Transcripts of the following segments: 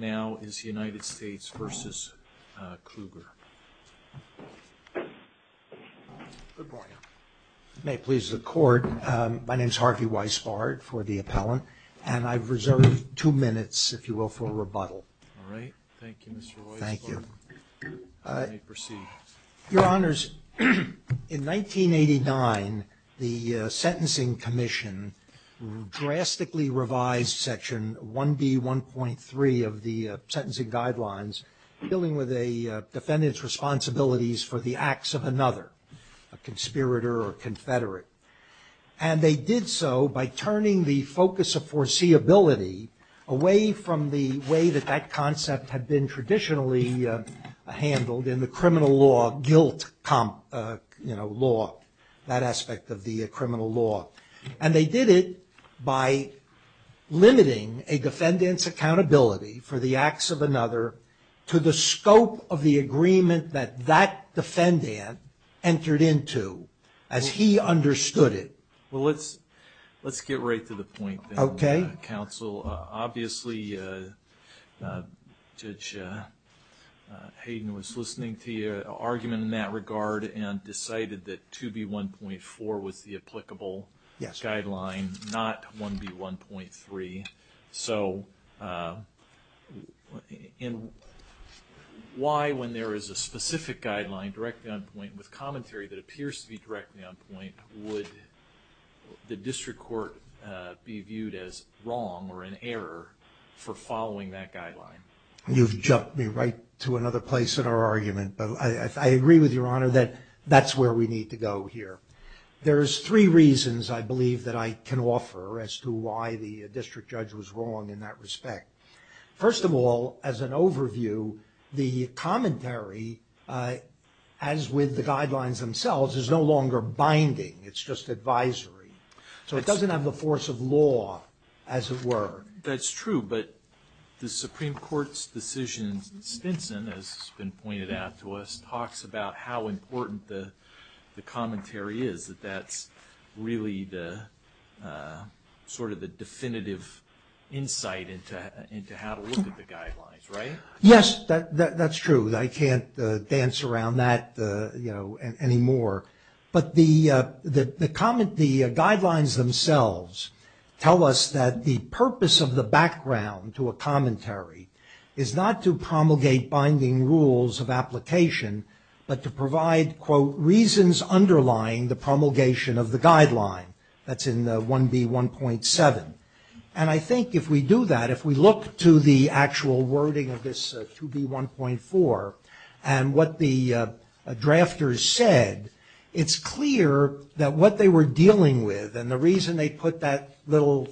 May it please the court. My name is Harvey Weisbart for the appellant and I've reserved two minutes, if you will, for rebuttal. All right. Thank you, Mr. Weisbart. Thank you. You may proceed. Your Honors, in 1989, the Sentencing Commission drastically revised Section 1B1.3 of the Sentencing Guidelines dealing with a defendant's responsibilities for the acts of another, a conspirator or confederate. And they did so by turning the focus of foreseeability away from the way that that concept had been traditionally handled in the criminal law, guilt law, that aspect of the criminal law. And they did it by limiting a defendant's accountability for the acts of another to the scope of the agreement that that defendant entered into as he understood it. Well, let's get right to the point. Okay. Counsel, obviously Judge Hayden was listening to your argument in that regard and decided that 2B1.4 was the applicable guideline, not 1B1.3. So why, when there is a specific guideline directly on point with commentary that appears to be directly on point, would the district court be viewed as wrong or in error for following that guideline? You've jumped me right to another place in our argument. But I agree with Your Honor that that's where we need to go here. There's three reasons, I believe, that I can offer as to why the district judge was wrong in that respect. First of all, as an overview, the commentary, as with the guidelines themselves, is no longer binding. It's just advisory. So it doesn't have the force of law, as it were. That's true. But the Supreme Court's decision, Stinson, as has been pointed out to us, talks about how important the commentary is, that that's really sort of the definitive insight into how to look at the guidelines, right? Yes, that's true. I can't dance around that anymore. But the guidelines themselves tell us that the purpose of the background to a commentary is not to promulgate binding rules of application, but to provide, quote, reasons underlying the promulgation of the guideline. That's in 1B1.7. And I think if we do that, if we look to the actual wording of this 2B1.4 and what the drafters said, it's clear that what they were dealing with, and the reason they put that little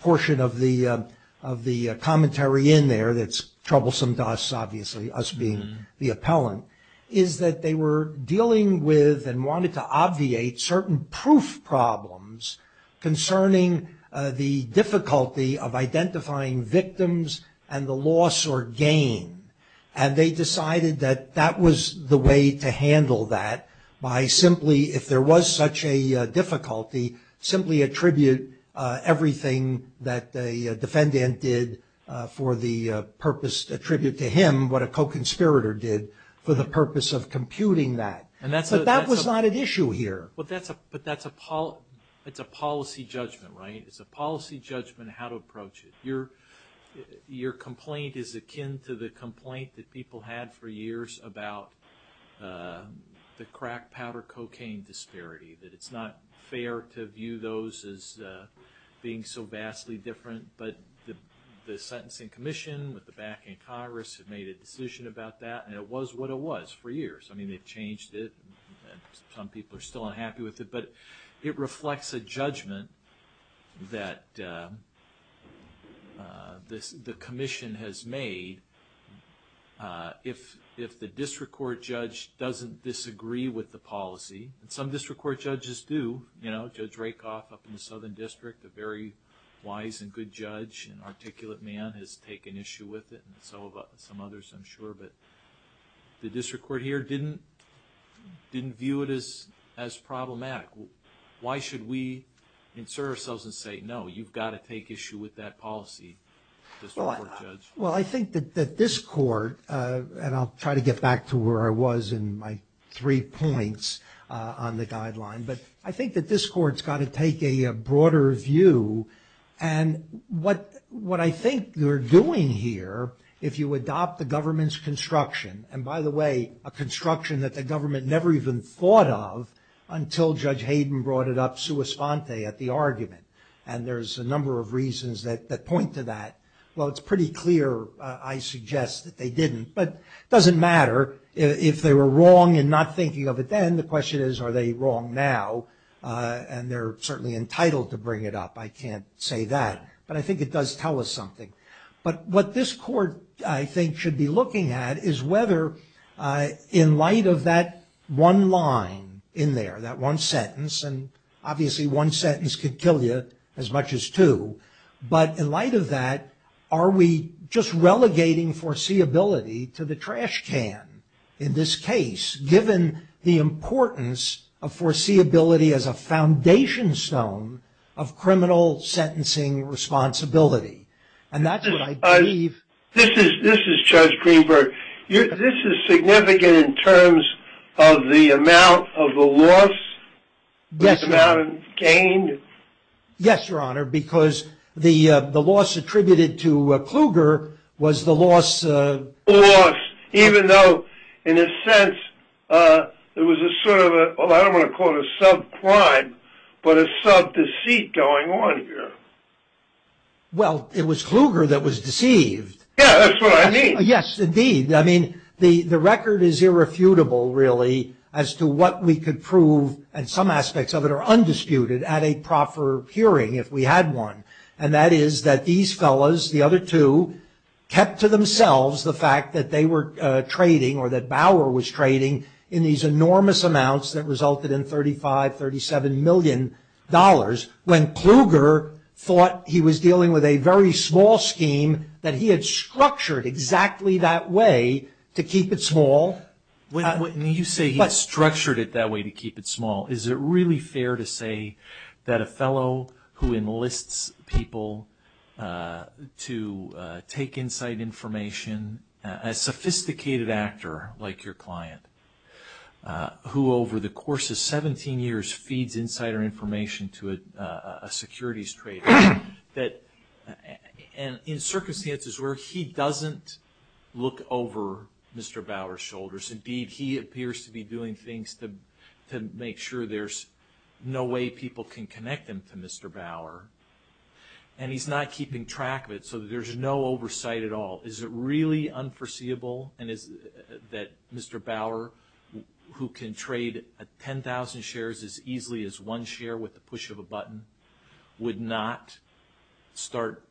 portion of the commentary in there that's troublesome to us, obviously, us being the appellant, is that they were dealing with and wanted to obviate certain proof problems concerning the difficulty of identifying victims and the loss or gain. And they decided that that was the way to handle that by simply, if there was such a difficulty, simply attribute everything that the defendant did for the purpose, attribute to him what a co-conspirator did for the purpose of computing that. But that was not an issue here. But that's a policy judgment, right? It's a policy judgment how to approach it. Your complaint is akin to the complaint that people had for years about the crack powder cocaine disparity, that it's not fair to view those as being so vastly different. But the sentencing commission, with the backing of Congress, had made a decision about that, and it was what it was for years. I mean, they've changed it. Some people are still unhappy with it. But it reflects a judgment that the commission has made. If the district court judge doesn't disagree with the policy, and some district court judges do, you know, Judge Rakoff up in the Southern District, a very wise and good judge and articulate man, has taken issue with it, and so have some others, I'm sure. But the district court here didn't view it as problematic. Why should we insert ourselves and say, no, you've got to take issue with that policy, district court judge? Well, I think that this court, and I'll try to get back to where I was in my three points on the guideline, but I think that this court's got to take a broader view. And what I think they're doing here, if you adopt the government's construction, and by the way, a construction that the government never even thought of until Judge Hayden brought it up sua sponte, at the argument. And there's a number of reasons that point to that. Well, it's pretty clear, I suggest, that they didn't. But it doesn't matter if they were wrong in not thinking of it then. The question is, are they wrong now? And they're certainly entitled to bring it up. I can't say that. But I think it does tell us something. But what this court, I think, should be looking at is whether, in light of that one line in there, that one sentence, and obviously one sentence could kill you as much as two. But in light of that, are we just relegating foreseeability to the trash can in this case, given the importance of foreseeability as a foundation stone of criminal sentencing responsibility? And that's what I believe. This is Judge Greenberg. This is significant in terms of the amount of the loss, the amount gained? Yes, Your Honor, because the loss attributed to Kluger was the loss of The loss, even though, in a sense, it was a sort of a, I don't want to call it a sub-crime, but a sub-deceit going on here. Well, it was Kluger that was deceived. Yeah, that's what I mean. Yes, indeed. I mean, the record is irrefutable, really, as to what we could prove, and some aspects of it are undisputed, at a proper hearing, if we had one. And that is that these fellows, the other two, kept to themselves the fact that they were trading, or that Bauer was trading, in these enormous amounts that resulted in $35, $37 million, when Kluger thought he was dealing with a very small scheme, that he had structured exactly that way to keep it small. When you say he had structured it that way to keep it small, is it really fair to say that a fellow who enlists people to take inside information, a sophisticated actor like your client, who over the course of 17 years feeds insider information to a securities trader, that in circumstances where he doesn't look over Mr. Bauer's shoulders, indeed, he appears to be doing things to make sure there's no way people can connect him to Mr. Bauer, and he's not keeping track of it, so there's no oversight at all? Is it really unforeseeable that Mr. Bauer, who can trade 10,000 shares as easily as one share with the push of a button, would not start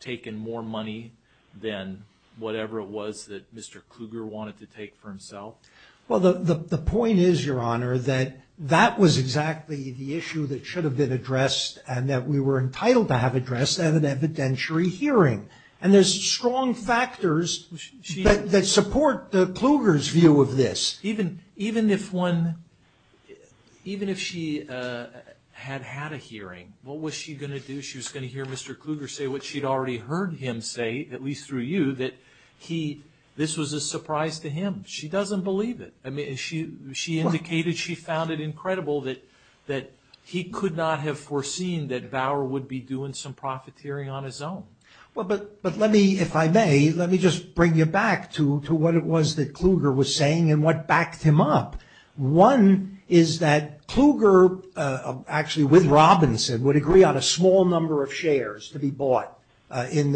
taking more money than whatever it was that Mr. Kluger wanted to take for himself? Well, the point is, Your Honor, that that was exactly the issue that should have been addressed, and that we were entitled to have addressed at an evidentiary hearing. And there's strong factors that support Kluger's view of this. Even if she had had a hearing, what was she going to do? She was going to hear Mr. Kluger say what she'd already heard him say, at least through you, that this was a surprise to him. She doesn't believe it. I mean, she indicated she found it incredible that he could not have foreseen that Bauer would be doing some profiteering on his own. Well, but let me, if I may, let me just bring you back to what it was that Kluger was saying and what backed him up. One is that Kluger, actually with Robinson, would agree on a small number of shares to be bought in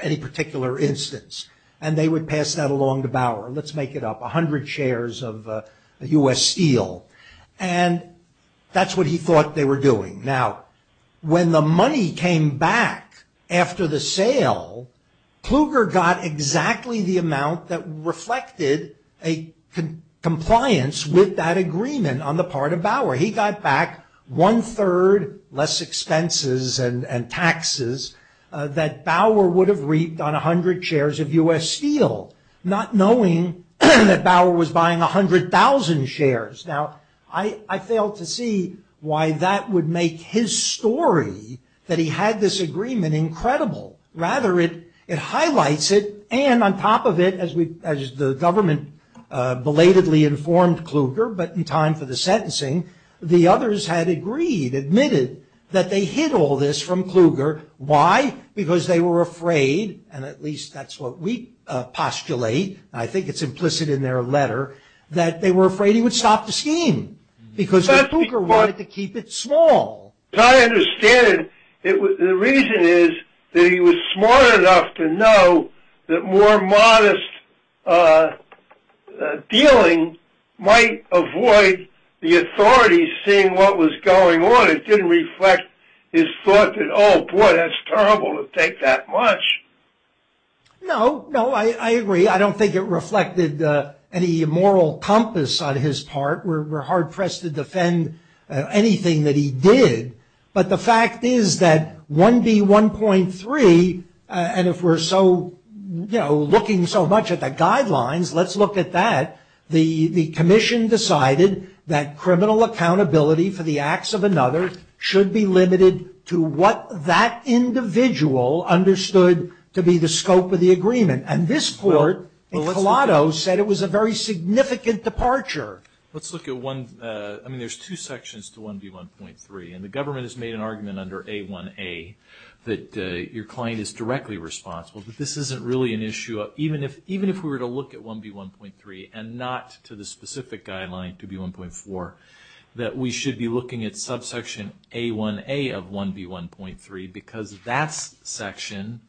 any particular instance, and they would pass that along to Bauer. Let's make it up, 100 shares of U.S. steel. And that's what he thought they were doing. Now, when the money came back after the sale, Kluger got exactly the amount that reflected a compliance with that agreement on the part of Bauer. He got back one-third less expenses and taxes that Bauer would have reaped on 100 shares of U.S. steel, not knowing that Bauer was buying 100,000 shares. Now, I fail to see why that would make his story that he had this agreement incredible. Rather, it highlights it, and on top of it, as the government belatedly informed Kluger, but in time for the sentencing, the others had agreed, admitted, that they hid all this from Kluger. Why? Because they were afraid, and at least that's what we postulate, and I think it's implicit in their letter, that they were afraid he would stop the scheme, because the Kluger wanted to keep it small. As I understand it, the reason is that he was smart enough to know that more modest dealing might avoid the authorities seeing what was going on. It didn't reflect his thought that, oh, boy, that's terrible to take that much. No, no, I agree. I don't think it reflected any moral compass on his part. We're hard-pressed to defend anything that he did, but the fact is that 1B.1.3, and if we're looking so much at the guidelines, let's look at that. The commission decided that criminal accountability for the acts of another should be limited to what that individual understood to be the scope of the agreement, and this court in Colato said it was a very significant departure. Sure. Let's look at one. I mean, there's two sections to 1B.1.3, and the government has made an argument under A1A that your client is directly responsible, but this isn't really an issue, even if we were to look at 1B.1.3 and not to the specific guideline, 2B.1.4, that we should be looking at subsection A1A of 1B.1.3 because that section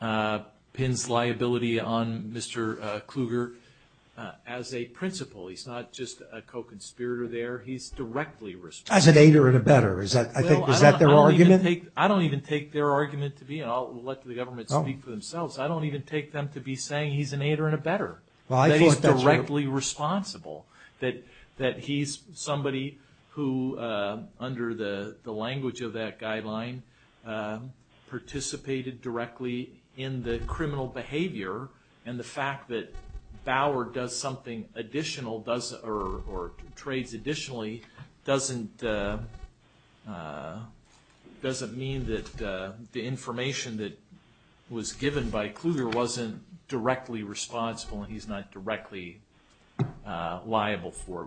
pins liability on Mr. Kluger as a principal. He's not just a co-conspirator there. He's directly responsible. As an aider and a better. Is that their argument? I don't even take their argument to be, and I'll let the government speak for themselves. I don't even take them to be saying he's an aider and a better. That he's directly responsible, that he's somebody who, under the language of that guideline, participated directly in the criminal behavior, and the fact that Bauer does something additional or trades additionally doesn't mean that the information that was given by Kluger wasn't directly responsible and he's not directly liable for it.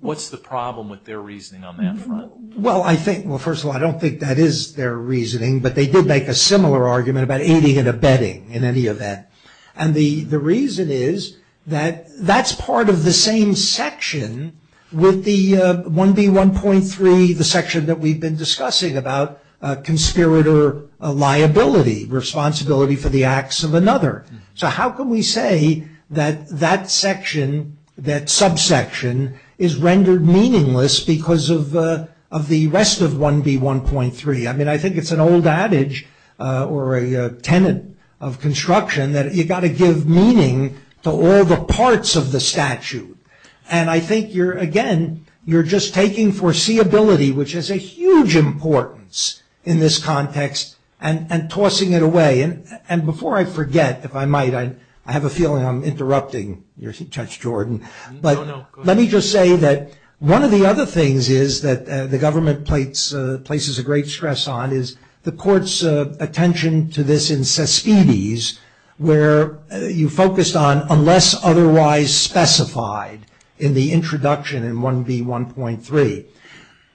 What's the problem with their reasoning on that front? Well, first of all, I don't think that is their reasoning, but they did make a similar argument about aiding and abetting in any event. The reason is that that's part of the same section with the 1B.1.3, the section that we've been discussing about conspirator liability, responsibility for the acts of another. So how can we say that that section, that subsection, is rendered meaningless because of the rest of 1B.1.3? I mean, I think it's an old adage or a tenant of construction that you've got to give meaning to all the parts of the statute. And I think, again, you're just taking foreseeability, which is a huge importance in this context, and tossing it away. And before I forget, if I might, I have a feeling I'm interrupting you, Judge Jordan. No, no, go ahead. But let me just say that one of the other things is that the government places a great stress on is the court's attention to this in Cespedes, where you focused on unless otherwise specified in the introduction in 1B.1.3.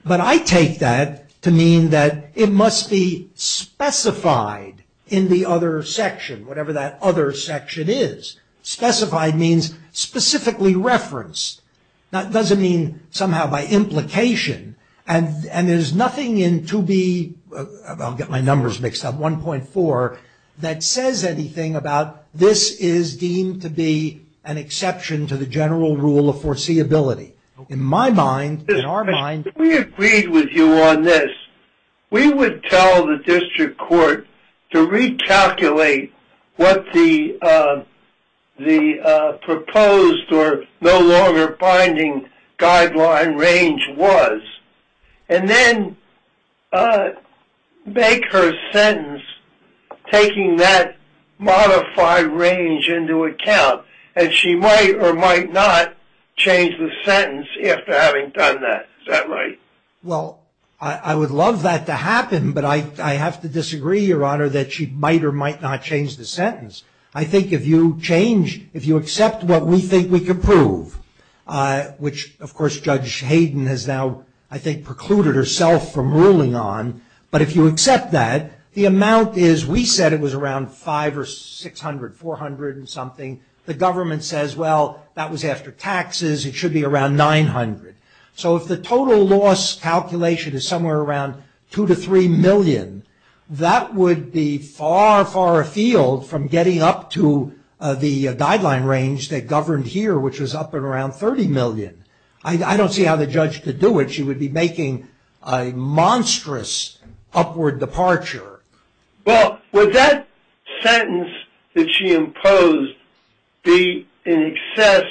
But I take that to mean that it must be specified in the other section, whatever that other section is. Specified means specifically referenced. Now, it doesn't mean somehow by implication. And there's nothing in 2B, I'll get my numbers mixed up, 1.4, that says anything about this is deemed to be an exception to the general rule of foreseeability. In my mind, in our mind. If we agreed with you on this, we would tell the district court to recalculate what the proposed or no longer binding guideline range was, and then make her sentence taking that modified range into account. And she might or might not change the sentence after having done that. Is that right? Well, I would love that to happen, but I have to disagree, Your Honor, that she might or might not change the sentence. I think if you change, if you accept what we think we can prove, which of course Judge Hayden has now I think precluded herself from ruling on, but if you accept that, the amount is, we said it was around 500 or 600, 400 and something. The government says, well, that was after taxes. It should be around 900. So if the total loss calculation is somewhere around 2 to 3 million, that would be far, far afield from getting up to the guideline range that governed here, which was up at around 30 million. I don't see how the judge could do it. She would be making a monstrous upward departure. Well, would that sentence that she imposed be in excess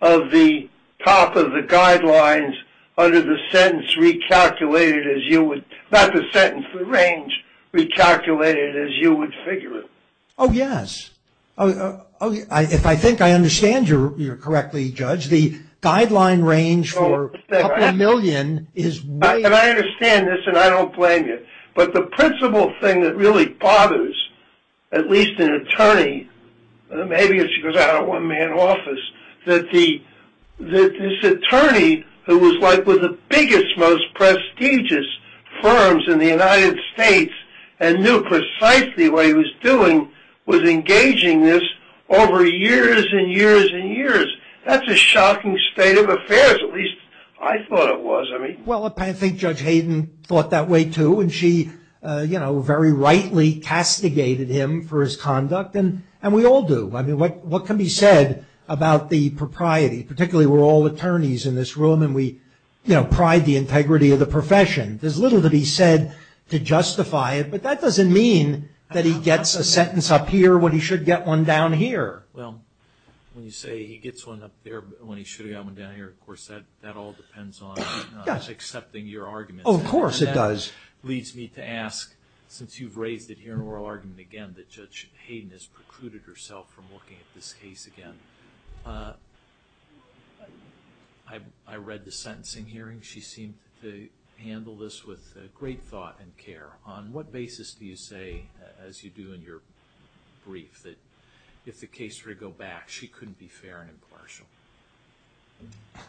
of the top of the guidelines under the sentence recalculated as you would, not the sentence, the range recalculated as you would figure it? Oh, yes. If I think I understand you correctly, Judge, the guideline range for a couple million is way. And I understand this and I don't blame you. But the principal thing that really bothers at least an attorney, maybe if she goes out of a one-man office, that this attorney who was like one of the biggest, most prestigious firms in the United States and knew precisely what he was doing was engaging this over years and years and years. That's a shocking state of affairs, at least I thought it was. Well, I think Judge Hayden thought that way too. And she, you know, very rightly castigated him for his conduct. And we all do. I mean, what can be said about the propriety? Particularly we're all attorneys in this room and we, you know, pride the integrity of the profession. There's little to be said to justify it. But that doesn't mean that he gets a sentence up here when he should get one down here. Well, when you say he gets one up there when he should have got one down here, of course that all depends on accepting your argument. Of course it does. And that leads me to ask, since you've raised it here in oral argument again, that Judge Hayden has precluded herself from looking at this case again. I read the sentencing hearing. She seemed to handle this with great thought and care. On what basis do you say, as you do in your brief, that if the case were to go back, she couldn't be fair and impartial?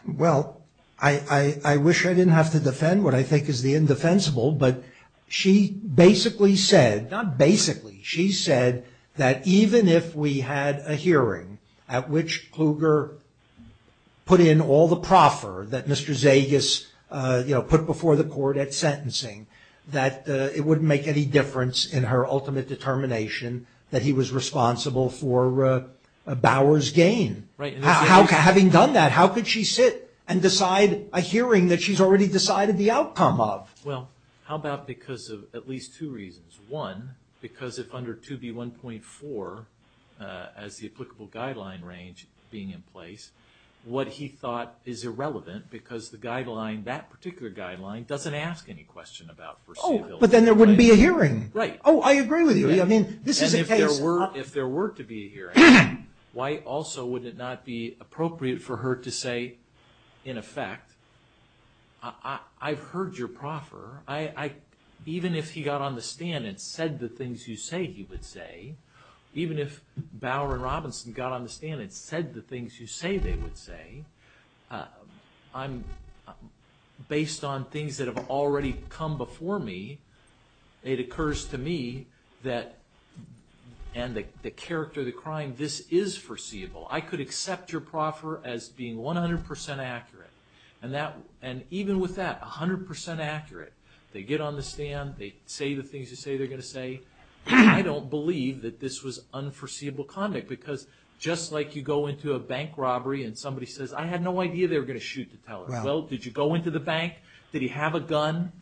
Well, I wish I didn't have to defend what I think is the indefensible. But she basically said, not basically, she said that even if we had a hearing at which Kluger put in all the proffer that Mr. Zagas, you know, put before the court at sentencing, that it wouldn't make any difference in her ultimate determination that he was responsible for Bauer's gain. Right. Having done that, how could she sit and decide a hearing that she's already decided the outcome of? Well, how about because of at least two reasons? One, because if under 2B1.4, as the applicable guideline range being in place, what he thought is irrelevant because the guideline, that particular guideline doesn't ask any question about versatility. Oh, but then there wouldn't be a hearing. Right. Oh, I agree with you. I mean, this is a case. And if there were to be a hearing, why also would it not be appropriate for her to say, in effect, I've heard your proffer. Even if he got on the stand and said the things you say he would say, even if Bauer and Robinson got on the stand and said the things you say they would say, based on things that have already come before me, it occurs to me that, and the character of the crime, this is foreseeable. I could accept your proffer as being 100% accurate. And even with that, 100% accurate, they get on the stand, they say the things you say they're going to say. I don't believe that this was unforeseeable conduct because just like you go into a bank robbery and somebody says, I had no idea they were going to shoot the teller. Well, did you go into the bank? Did he have a gun?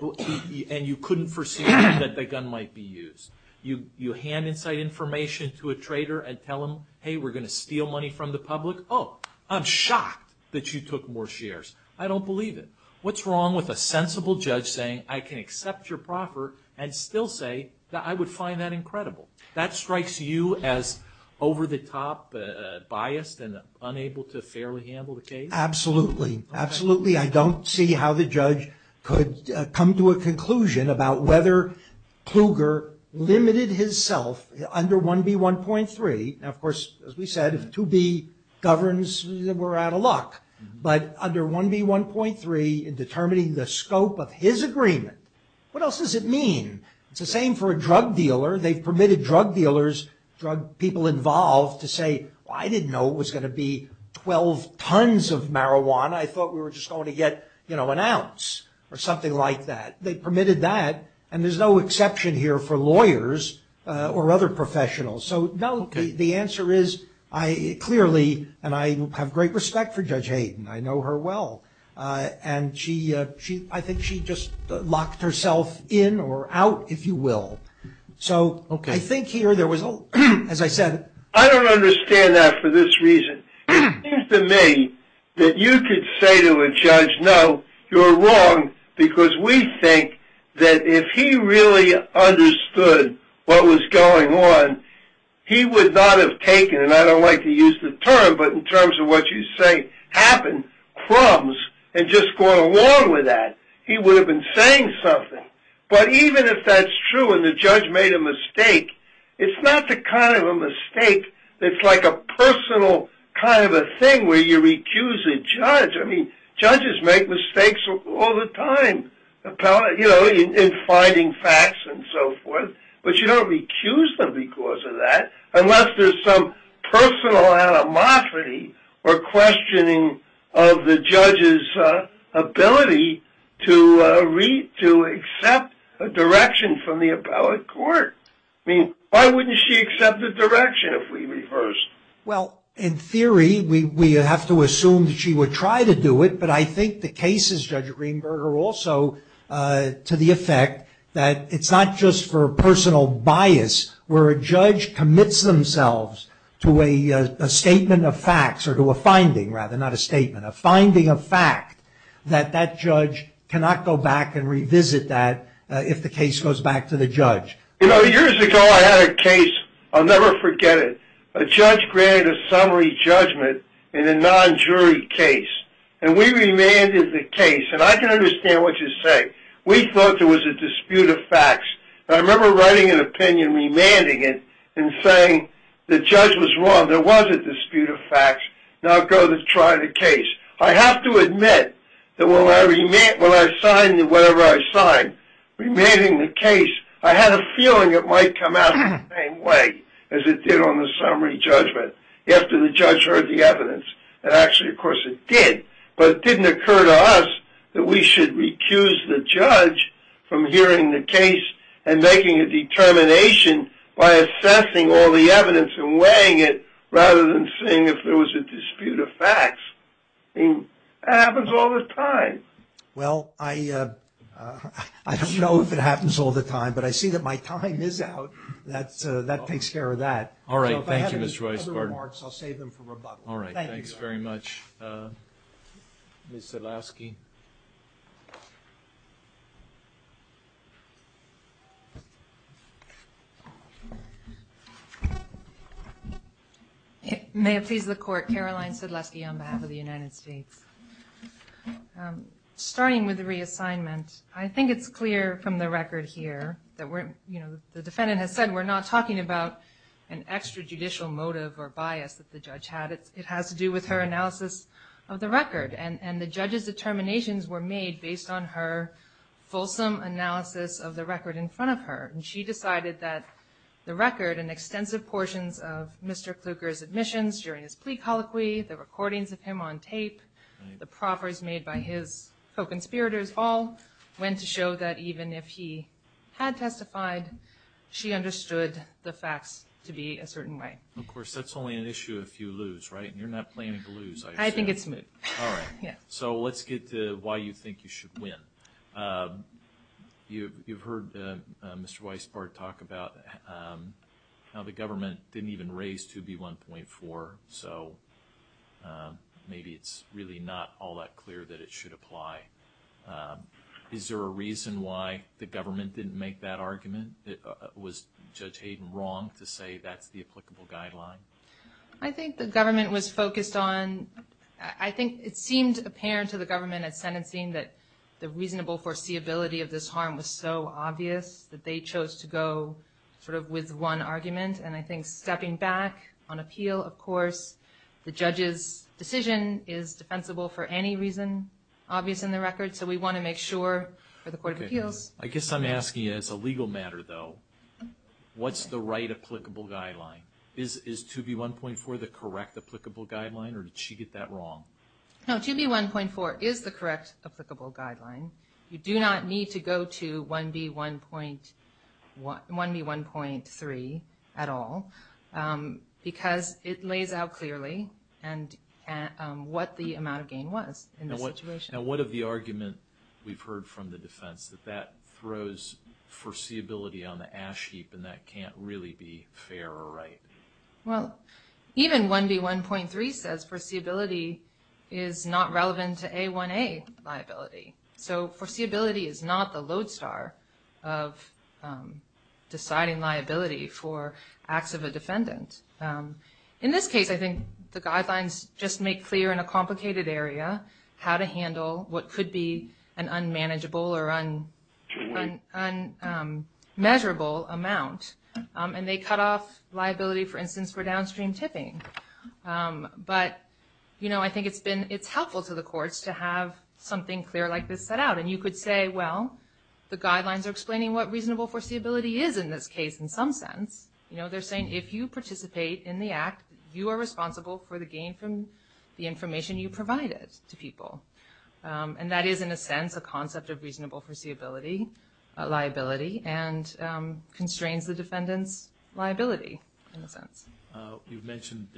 And you couldn't foresee that the gun might be used. You hand inside information to a trader and tell him, hey, we're going to steal money from the public. Oh, I'm shocked that you took more shares. I don't believe it. What's wrong with a sensible judge saying I can accept your proffer and still say that I would find that incredible? That strikes you as over-the-top biased and unable to fairly handle the case? Absolutely. Absolutely. I don't see how the judge could come to a conclusion about whether Kluger limited himself under 1B1.3. Now, of course, as we said, if 2B governs, we're out of luck. But under 1B1.3, in determining the scope of his agreement, what else does it mean? It's the same for a drug dealer. They've permitted drug dealers, drug people involved, to say, well, I didn't know it was going to be 12 tons of marijuana. I thought we were just going to get an ounce or something like that. They permitted that. And there's no exception here for lawyers or other professionals. So, no, the answer is, clearly, and I have great respect for Judge Hayden. I know her well. And I think she just locked herself in or out, if you will. So I think here there was, as I said. I don't understand that for this reason. It seems to me that you could say to a judge, no, you're wrong, because we think that if he really understood what was going on, he would not have taken, and I don't like to use the term, but in terms of what you say, happened, crumbs, and just gone along with that. He would have been saying something. But even if that's true and the judge made a mistake, it's not the kind of a mistake that's like a personal kind of a thing where you recuse a judge. I mean, judges make mistakes all the time, you know, in finding facts and so forth. But you don't recuse them because of that, unless there's some personal animosity or questioning of the judge's ability to accept a direction from the appellate court. I mean, why wouldn't she accept a direction if we reversed? Well, in theory, we have to assume that she would try to do it, but I think the case is, Judge Greenberg, also to the effect that it's not just for personal bias where a judge commits themselves to a statement of facts or to a finding, rather, not a statement, a finding of fact that that judge cannot go back and revisit that if the case goes back to the judge. You know, years ago, I had a case. I'll never forget it. A judge granted a summary judgment in a non-jury case, and we remanded the case. And I can understand what you're saying. We thought there was a dispute of facts. I remember writing an opinion, remanding it, and saying the judge was wrong. There was a dispute of facts. Now go try the case. I have to admit that when I signed whatever I signed, remanding the case, I had a feeling it might come out the same way as it did on the summary judgment after the judge heard the evidence. And actually, of course, it did. But it didn't occur to us that we should recuse the judge from hearing the case and making a determination by assessing all the evidence and weighing it rather than seeing if there was a dispute of facts. I mean, that happens all the time. Well, I don't know if it happens all the time, but I see that my time is out. That takes care of that. Thank you, Mr. Weisgarten. If I have any other remarks, I'll save them for rebuttal. All right. Thanks very much. Ms. Sedlowski. May it please the Court. Caroline Sedlowski on behalf of the United States. Starting with the reassignment, I think it's clear from the record here that we're, you know, the defendant has said we're not talking about an extrajudicial motive or bias that the judge had. It has to do with her analysis of the record. And the judge's determinations were made based on her fulsome analysis of the record in front of her. And she decided that the record and extensive portions of Mr. Kluger's admissions during his plea colloquy, the recordings of him on tape, the proffers made by his co-conspirators all went to show that even if he had testified, she understood the facts to be a certain way. Of course, that's only an issue if you lose, right? And you're not planning to lose, I assume. I think it's mid. All right. So let's get to why you think you should win. You've heard Mr. Weisbart talk about how the government didn't even raise 2B1.4, so maybe it's really not all that clear that it should apply. Is there a reason why the government didn't make that argument? Was Judge Hayden wrong to say that's the applicable guideline? I think the government was focused on – I think it seemed apparent to the government at sentencing that the reasonable foreseeability of this harm was so obvious that they chose to go sort of with one argument. And I think stepping back on appeal, of course, the judge's decision is defensible for any reason obvious in the record, so we want to make sure for the court of appeals. I guess I'm asking as a legal matter, though, what's the right applicable guideline? Is 2B1.4 the correct applicable guideline, or did she get that wrong? No, 2B1.4 is the correct applicable guideline. You do not need to go to 1B1.3 at all, because it lays out clearly what the amount of gain was in this situation. Now, what of the argument we've heard from the defense that that throws foreseeability on the ash heap and that can't really be fair or right? Well, even 1B1.3 says foreseeability is not relevant to A1A liability. So foreseeability is not the lodestar of deciding liability for acts of a defendant. In this case, I think the guidelines just make clear in a complicated area how to handle what could be an unmanageable or unmeasurable amount, and they cut off liability, for instance, for downstream tipping. But I think it's helpful to the courts to have something clear like this set out, and you could say, well, the guidelines are explaining what reasonable foreseeability is in this case in some sense. They're saying if you participate in the act, you are responsible for the gain from the information you provided to people. And that is, in a sense, a concept of reasonable foreseeability liability and constrains the defendant's liability in a sense. You've mentioned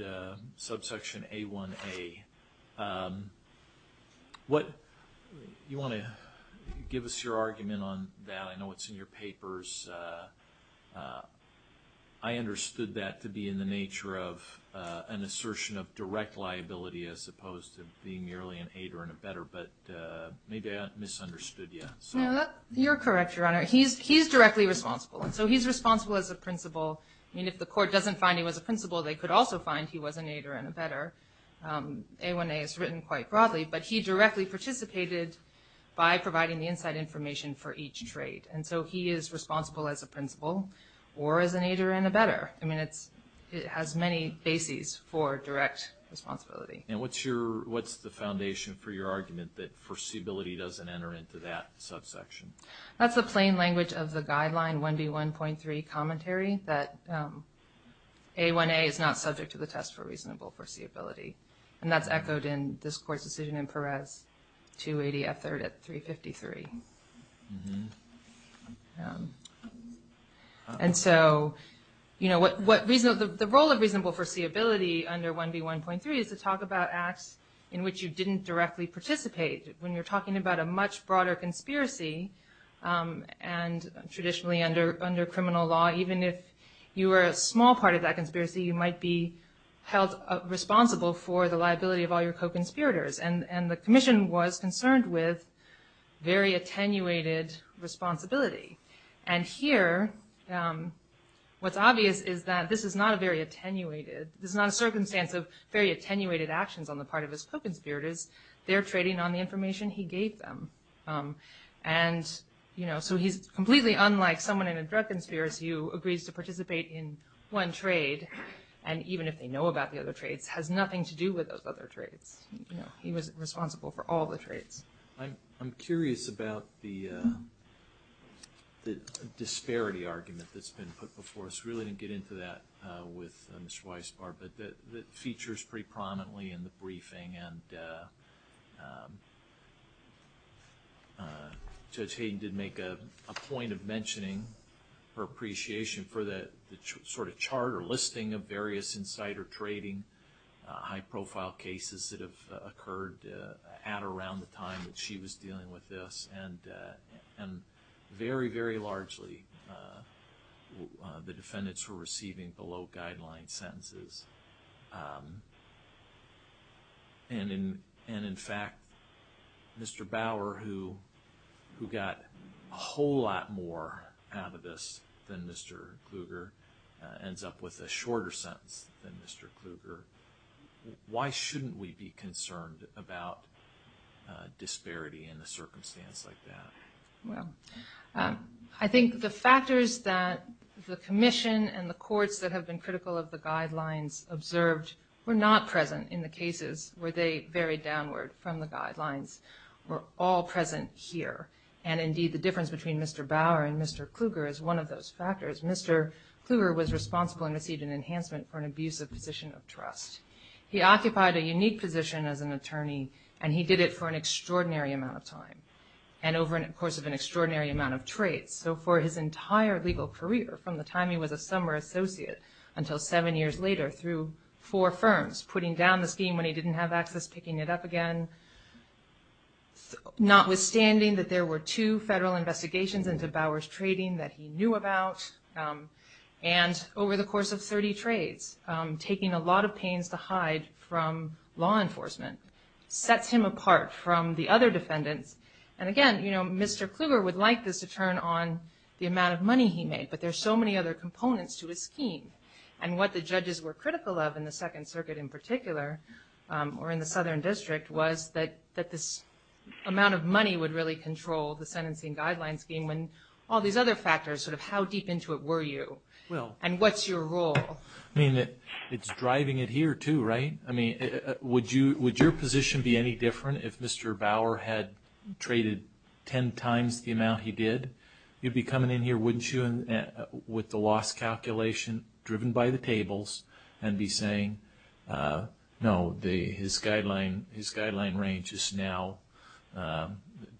subsection A1A. You want to give us your argument on that? I know it's in your papers. I understood that to be in the nature of an assertion of direct liability as opposed to being merely an aid or in a better, but maybe I misunderstood you. You're correct, Your Honor. He's directly responsible, and so he's responsible as a principal. I mean, if the court doesn't find him as a principal, they could also find he was an aid or in a better. A1A is written quite broadly, but he directly participated by providing the inside information for each trade. And so he is responsible as a principal or as an aid or in a better. I mean, it has many bases for direct responsibility. And what's the foundation for your argument that foreseeability doesn't enter into that subsection? That's the plain language of the guideline 1B1.3 commentary that A1A is not subject to the test for reasonable foreseeability. And that's echoed in this court's decision in Perez 280 at 3rd at 353. And so the role of reasonable foreseeability under 1B1.3 is to talk about acts in which you didn't directly participate. When you're talking about a much broader conspiracy, and traditionally under criminal law, even if you were a small part of that conspiracy, you might be held responsible for the liability of all your co-conspirators. And the commission was concerned with very attenuated responsibility. And here, what's obvious is that this is not a very attenuated, this is not a circumstance of very attenuated actions on the part of his co-conspirators. They're trading on the information he gave them. And so he's completely unlike someone in a drug conspiracy who agrees to participate in one trade, and even if they know about the other trades, has nothing to do with those other trades. He was responsible for all the trades. I'm curious about the disparity argument that's been put before us. I really didn't get into that with Mr. Weisbar, but it features pretty prominently in the briefing. And Judge Hayden did make a point of mentioning her appreciation for the sort of chart or listing of various insider trading, high-profile cases that have occurred at or around the time that she was dealing with this. And very, very largely, the defendants were receiving below-guideline sentences. And in fact, Mr. Bauer, who got a whole lot more out of this than Mr. Kluger, ends up with a shorter sentence than Mr. Kluger. Why shouldn't we be concerned about disparity in a circumstance like that? Well, I think the factors that the Commission and the courts that have been critical of the guidelines observed were not present in the cases where they varied downward from the guidelines. We're all present here. And indeed, the difference between Mr. Bauer and Mr. Kluger is one of those factors. Mr. Kluger was responsible and received an enhancement for an abusive position of trust. He occupied a unique position as an attorney, and he did it for an extraordinary amount of time and over the course of an extraordinary amount of trades. So for his entire legal career, from the time he was a summer associate until seven years later through four firms, putting down the scheme when he didn't have access, picking it up again. Notwithstanding that there were two federal investigations into Bauer's trading that he knew about, and over the course of 30 trades, taking a lot of pains to hide from law enforcement sets him apart from the other defendants. And again, you know, Mr. Kluger would like this to turn on the amount of money he made, but there's so many other components to his scheme. And what the judges were critical of in the Second Circuit in particular, or in the Southern District, was that this amount of money would really control the sentencing guideline scheme when all these other factors, sort of how deep into it were you? And what's your role? I mean, it's driving it here too, right? I mean, would your position be any different if Mr. Bauer had traded ten times the amount he did? You'd be coming in here, wouldn't you, with the loss calculation driven by the tables, and be saying, no, his guideline range is now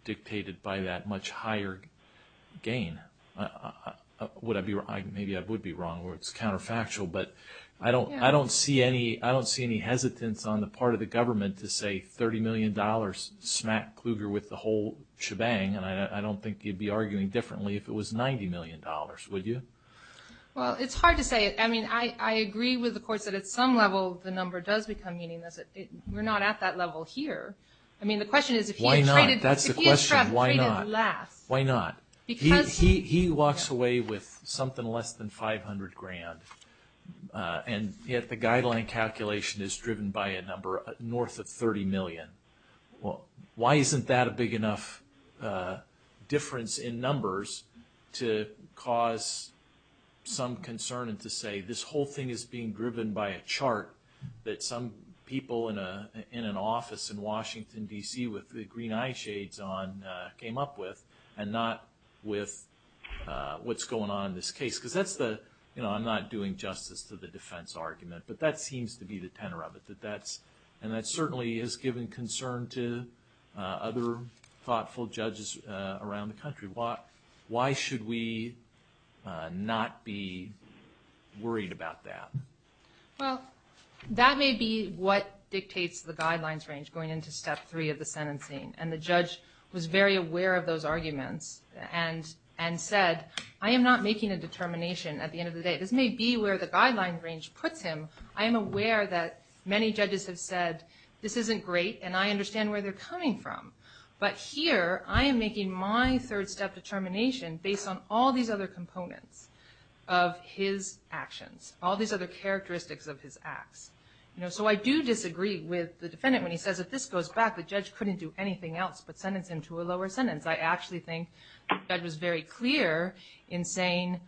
dictated by that much higher gain. Would I be wrong? Maybe I would be wrong where it's counterfactual, but I don't see any hesitance on the part of the government to say $30 million smacked Kluger with the whole shebang, and I don't think you'd be arguing differently if it was $90 million, would you? Well, it's hard to say. I mean, I agree with the courts that at some level the number does become meaningless. We're not at that level here. I mean, the question is if he had traded last. Why not? That's the question. Why not? He walks away with something less than 500 grand, and yet the guideline calculation is driven by a number north of 30 million. Why isn't that a big enough difference in numbers to cause some concern and to say this whole thing is being driven by a chart that some people in an office in Washington, D.C., with the green eyeshades on, came up with, and not with what's going on in this case? Because that's the, you know, I'm not doing justice to the defense argument, but that seems to be the tenor of it, and that certainly has given concern to other thoughtful judges around the country. Why should we not be worried about that? Well, that may be what dictates the guidelines range going into step three of the sentencing, and the judge was very aware of those arguments and said I am not making a determination at the end of the day. This may be where the guidelines range puts him. I am aware that many judges have said this isn't great, and I understand where they're coming from, but here I am making my third step determination based on all these other components of his actions, all these other characteristics of his acts. So I do disagree with the defendant when he says if this goes back, the judge couldn't do anything else but sentence him to a lower sentence. I actually think the judge was very clear in saying,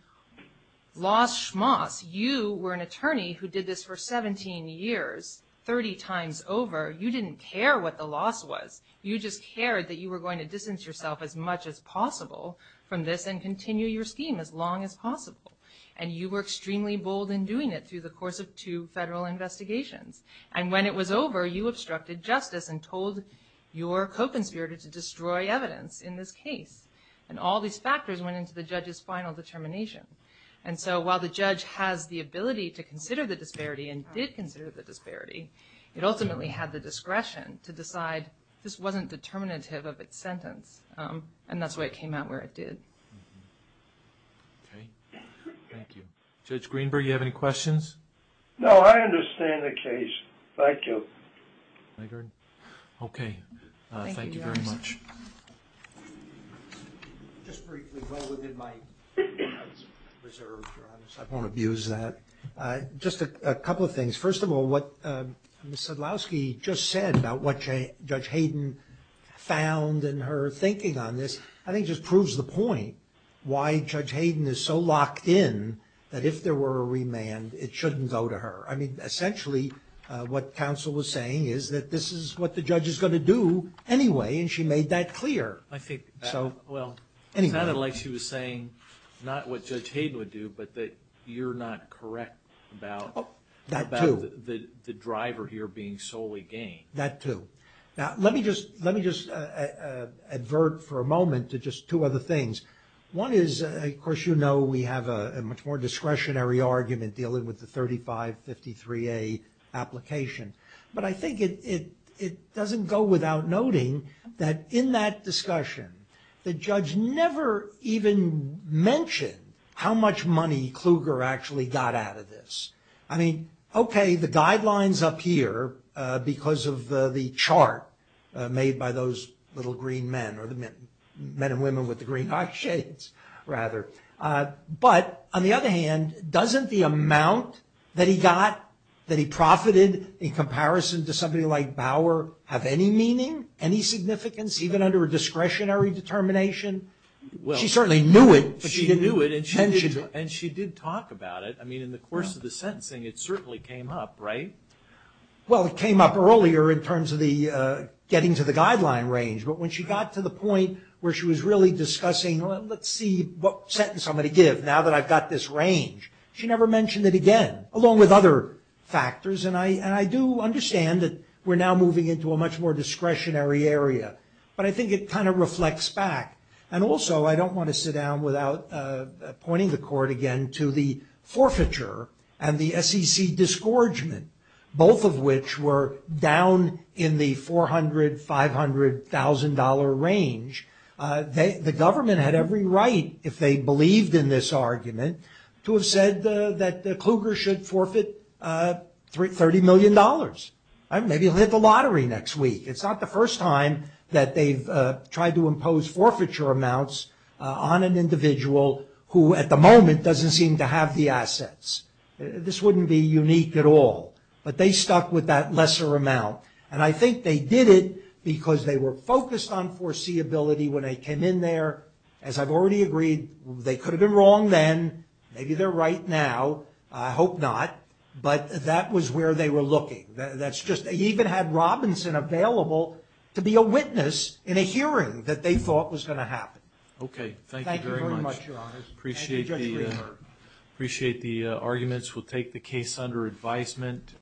Los Schmoss, you were an attorney who did this for 17 years, 30 times over. You didn't care what the loss was. You just cared that you were going to distance yourself as much as possible from this and continue your scheme as long as possible, and you were extremely bold in doing it through the course of two federal investigations, and when it was over, you obstructed justice and told your co-conspirator to destroy evidence in this case, and all these factors went into the judge's final determination, and so while the judge has the ability to consider the disparity and did consider the disparity, it ultimately had the discretion to decide this wasn't determinative of its sentence, and that's why it came out where it did. Okay. Thank you. Judge Greenberg, do you have any questions? No, I understand the case. Thank you. Okay. Thank you very much. Just briefly, well within my reserve, I won't abuse that. Just a couple of things. First of all, what Ms. Sadlowski just said about what Judge Hayden found in her thinking on this, I think just proves the point why Judge Hayden is so locked in that if there were a remand, it shouldn't go to her. I mean, essentially what counsel was saying is that this is what the judge is going to do anyway, and she made that clear. I think so. Well, it sounded like she was saying not what Judge Hayden would do, but that you're not correct about the driver here being solely gain. That too. Now, let me just advert for a moment to just two other things. One is, of course, you know we have a much more discretionary argument dealing with the 3553A application, but I think it doesn't go without noting that in that discussion, the judge never even mentioned how much money Kluger actually got out of this. I mean, okay, the guidelines up here because of the chart made by those little green men, or the men and women with the green eyeshades, rather. But on the other hand, doesn't the amount that he got, that he profited in comparison to somebody like Bauer, have any meaning, any significance, even under a discretionary determination? She certainly knew it, but she didn't mention it. And she did talk about it. I mean, in the course of the sentencing, it certainly came up, right? Well, it came up earlier in terms of the getting to the guideline range, but when she got to the point where she was really discussing, well, let's see what sentence I'm going to give now that I've got this range, she never mentioned it again, along with other factors. And I do understand that we're now moving into a much more discretionary area, but I think it kind of reflects back. And also, I don't want to sit down without pointing the court again to the forfeiture and the SEC disgorgement, both of which were down in the $400,000, $500,000 range. The government had every right, if they believed in this argument, to have said that Kluger should forfeit $30 million. Maybe he'll hit the lottery next week. It's not the first time that they've tried to impose forfeiture amounts on an individual who, at the moment, doesn't seem to have the assets. This wouldn't be unique at all. But they stuck with that lesser amount. And I think they did it because they were focused on foreseeability when they came in there. As I've already agreed, they could have been wrong then. Maybe they're right now. I hope not. But that was where they were looking. They even had Robinson available to be a witness in a hearing that they thought was going to happen. Okay, thank you very much. Thank you very much, Your Honors. Thank you, Judge Greenberg. Appreciate the arguments. We'll take the case under advisement.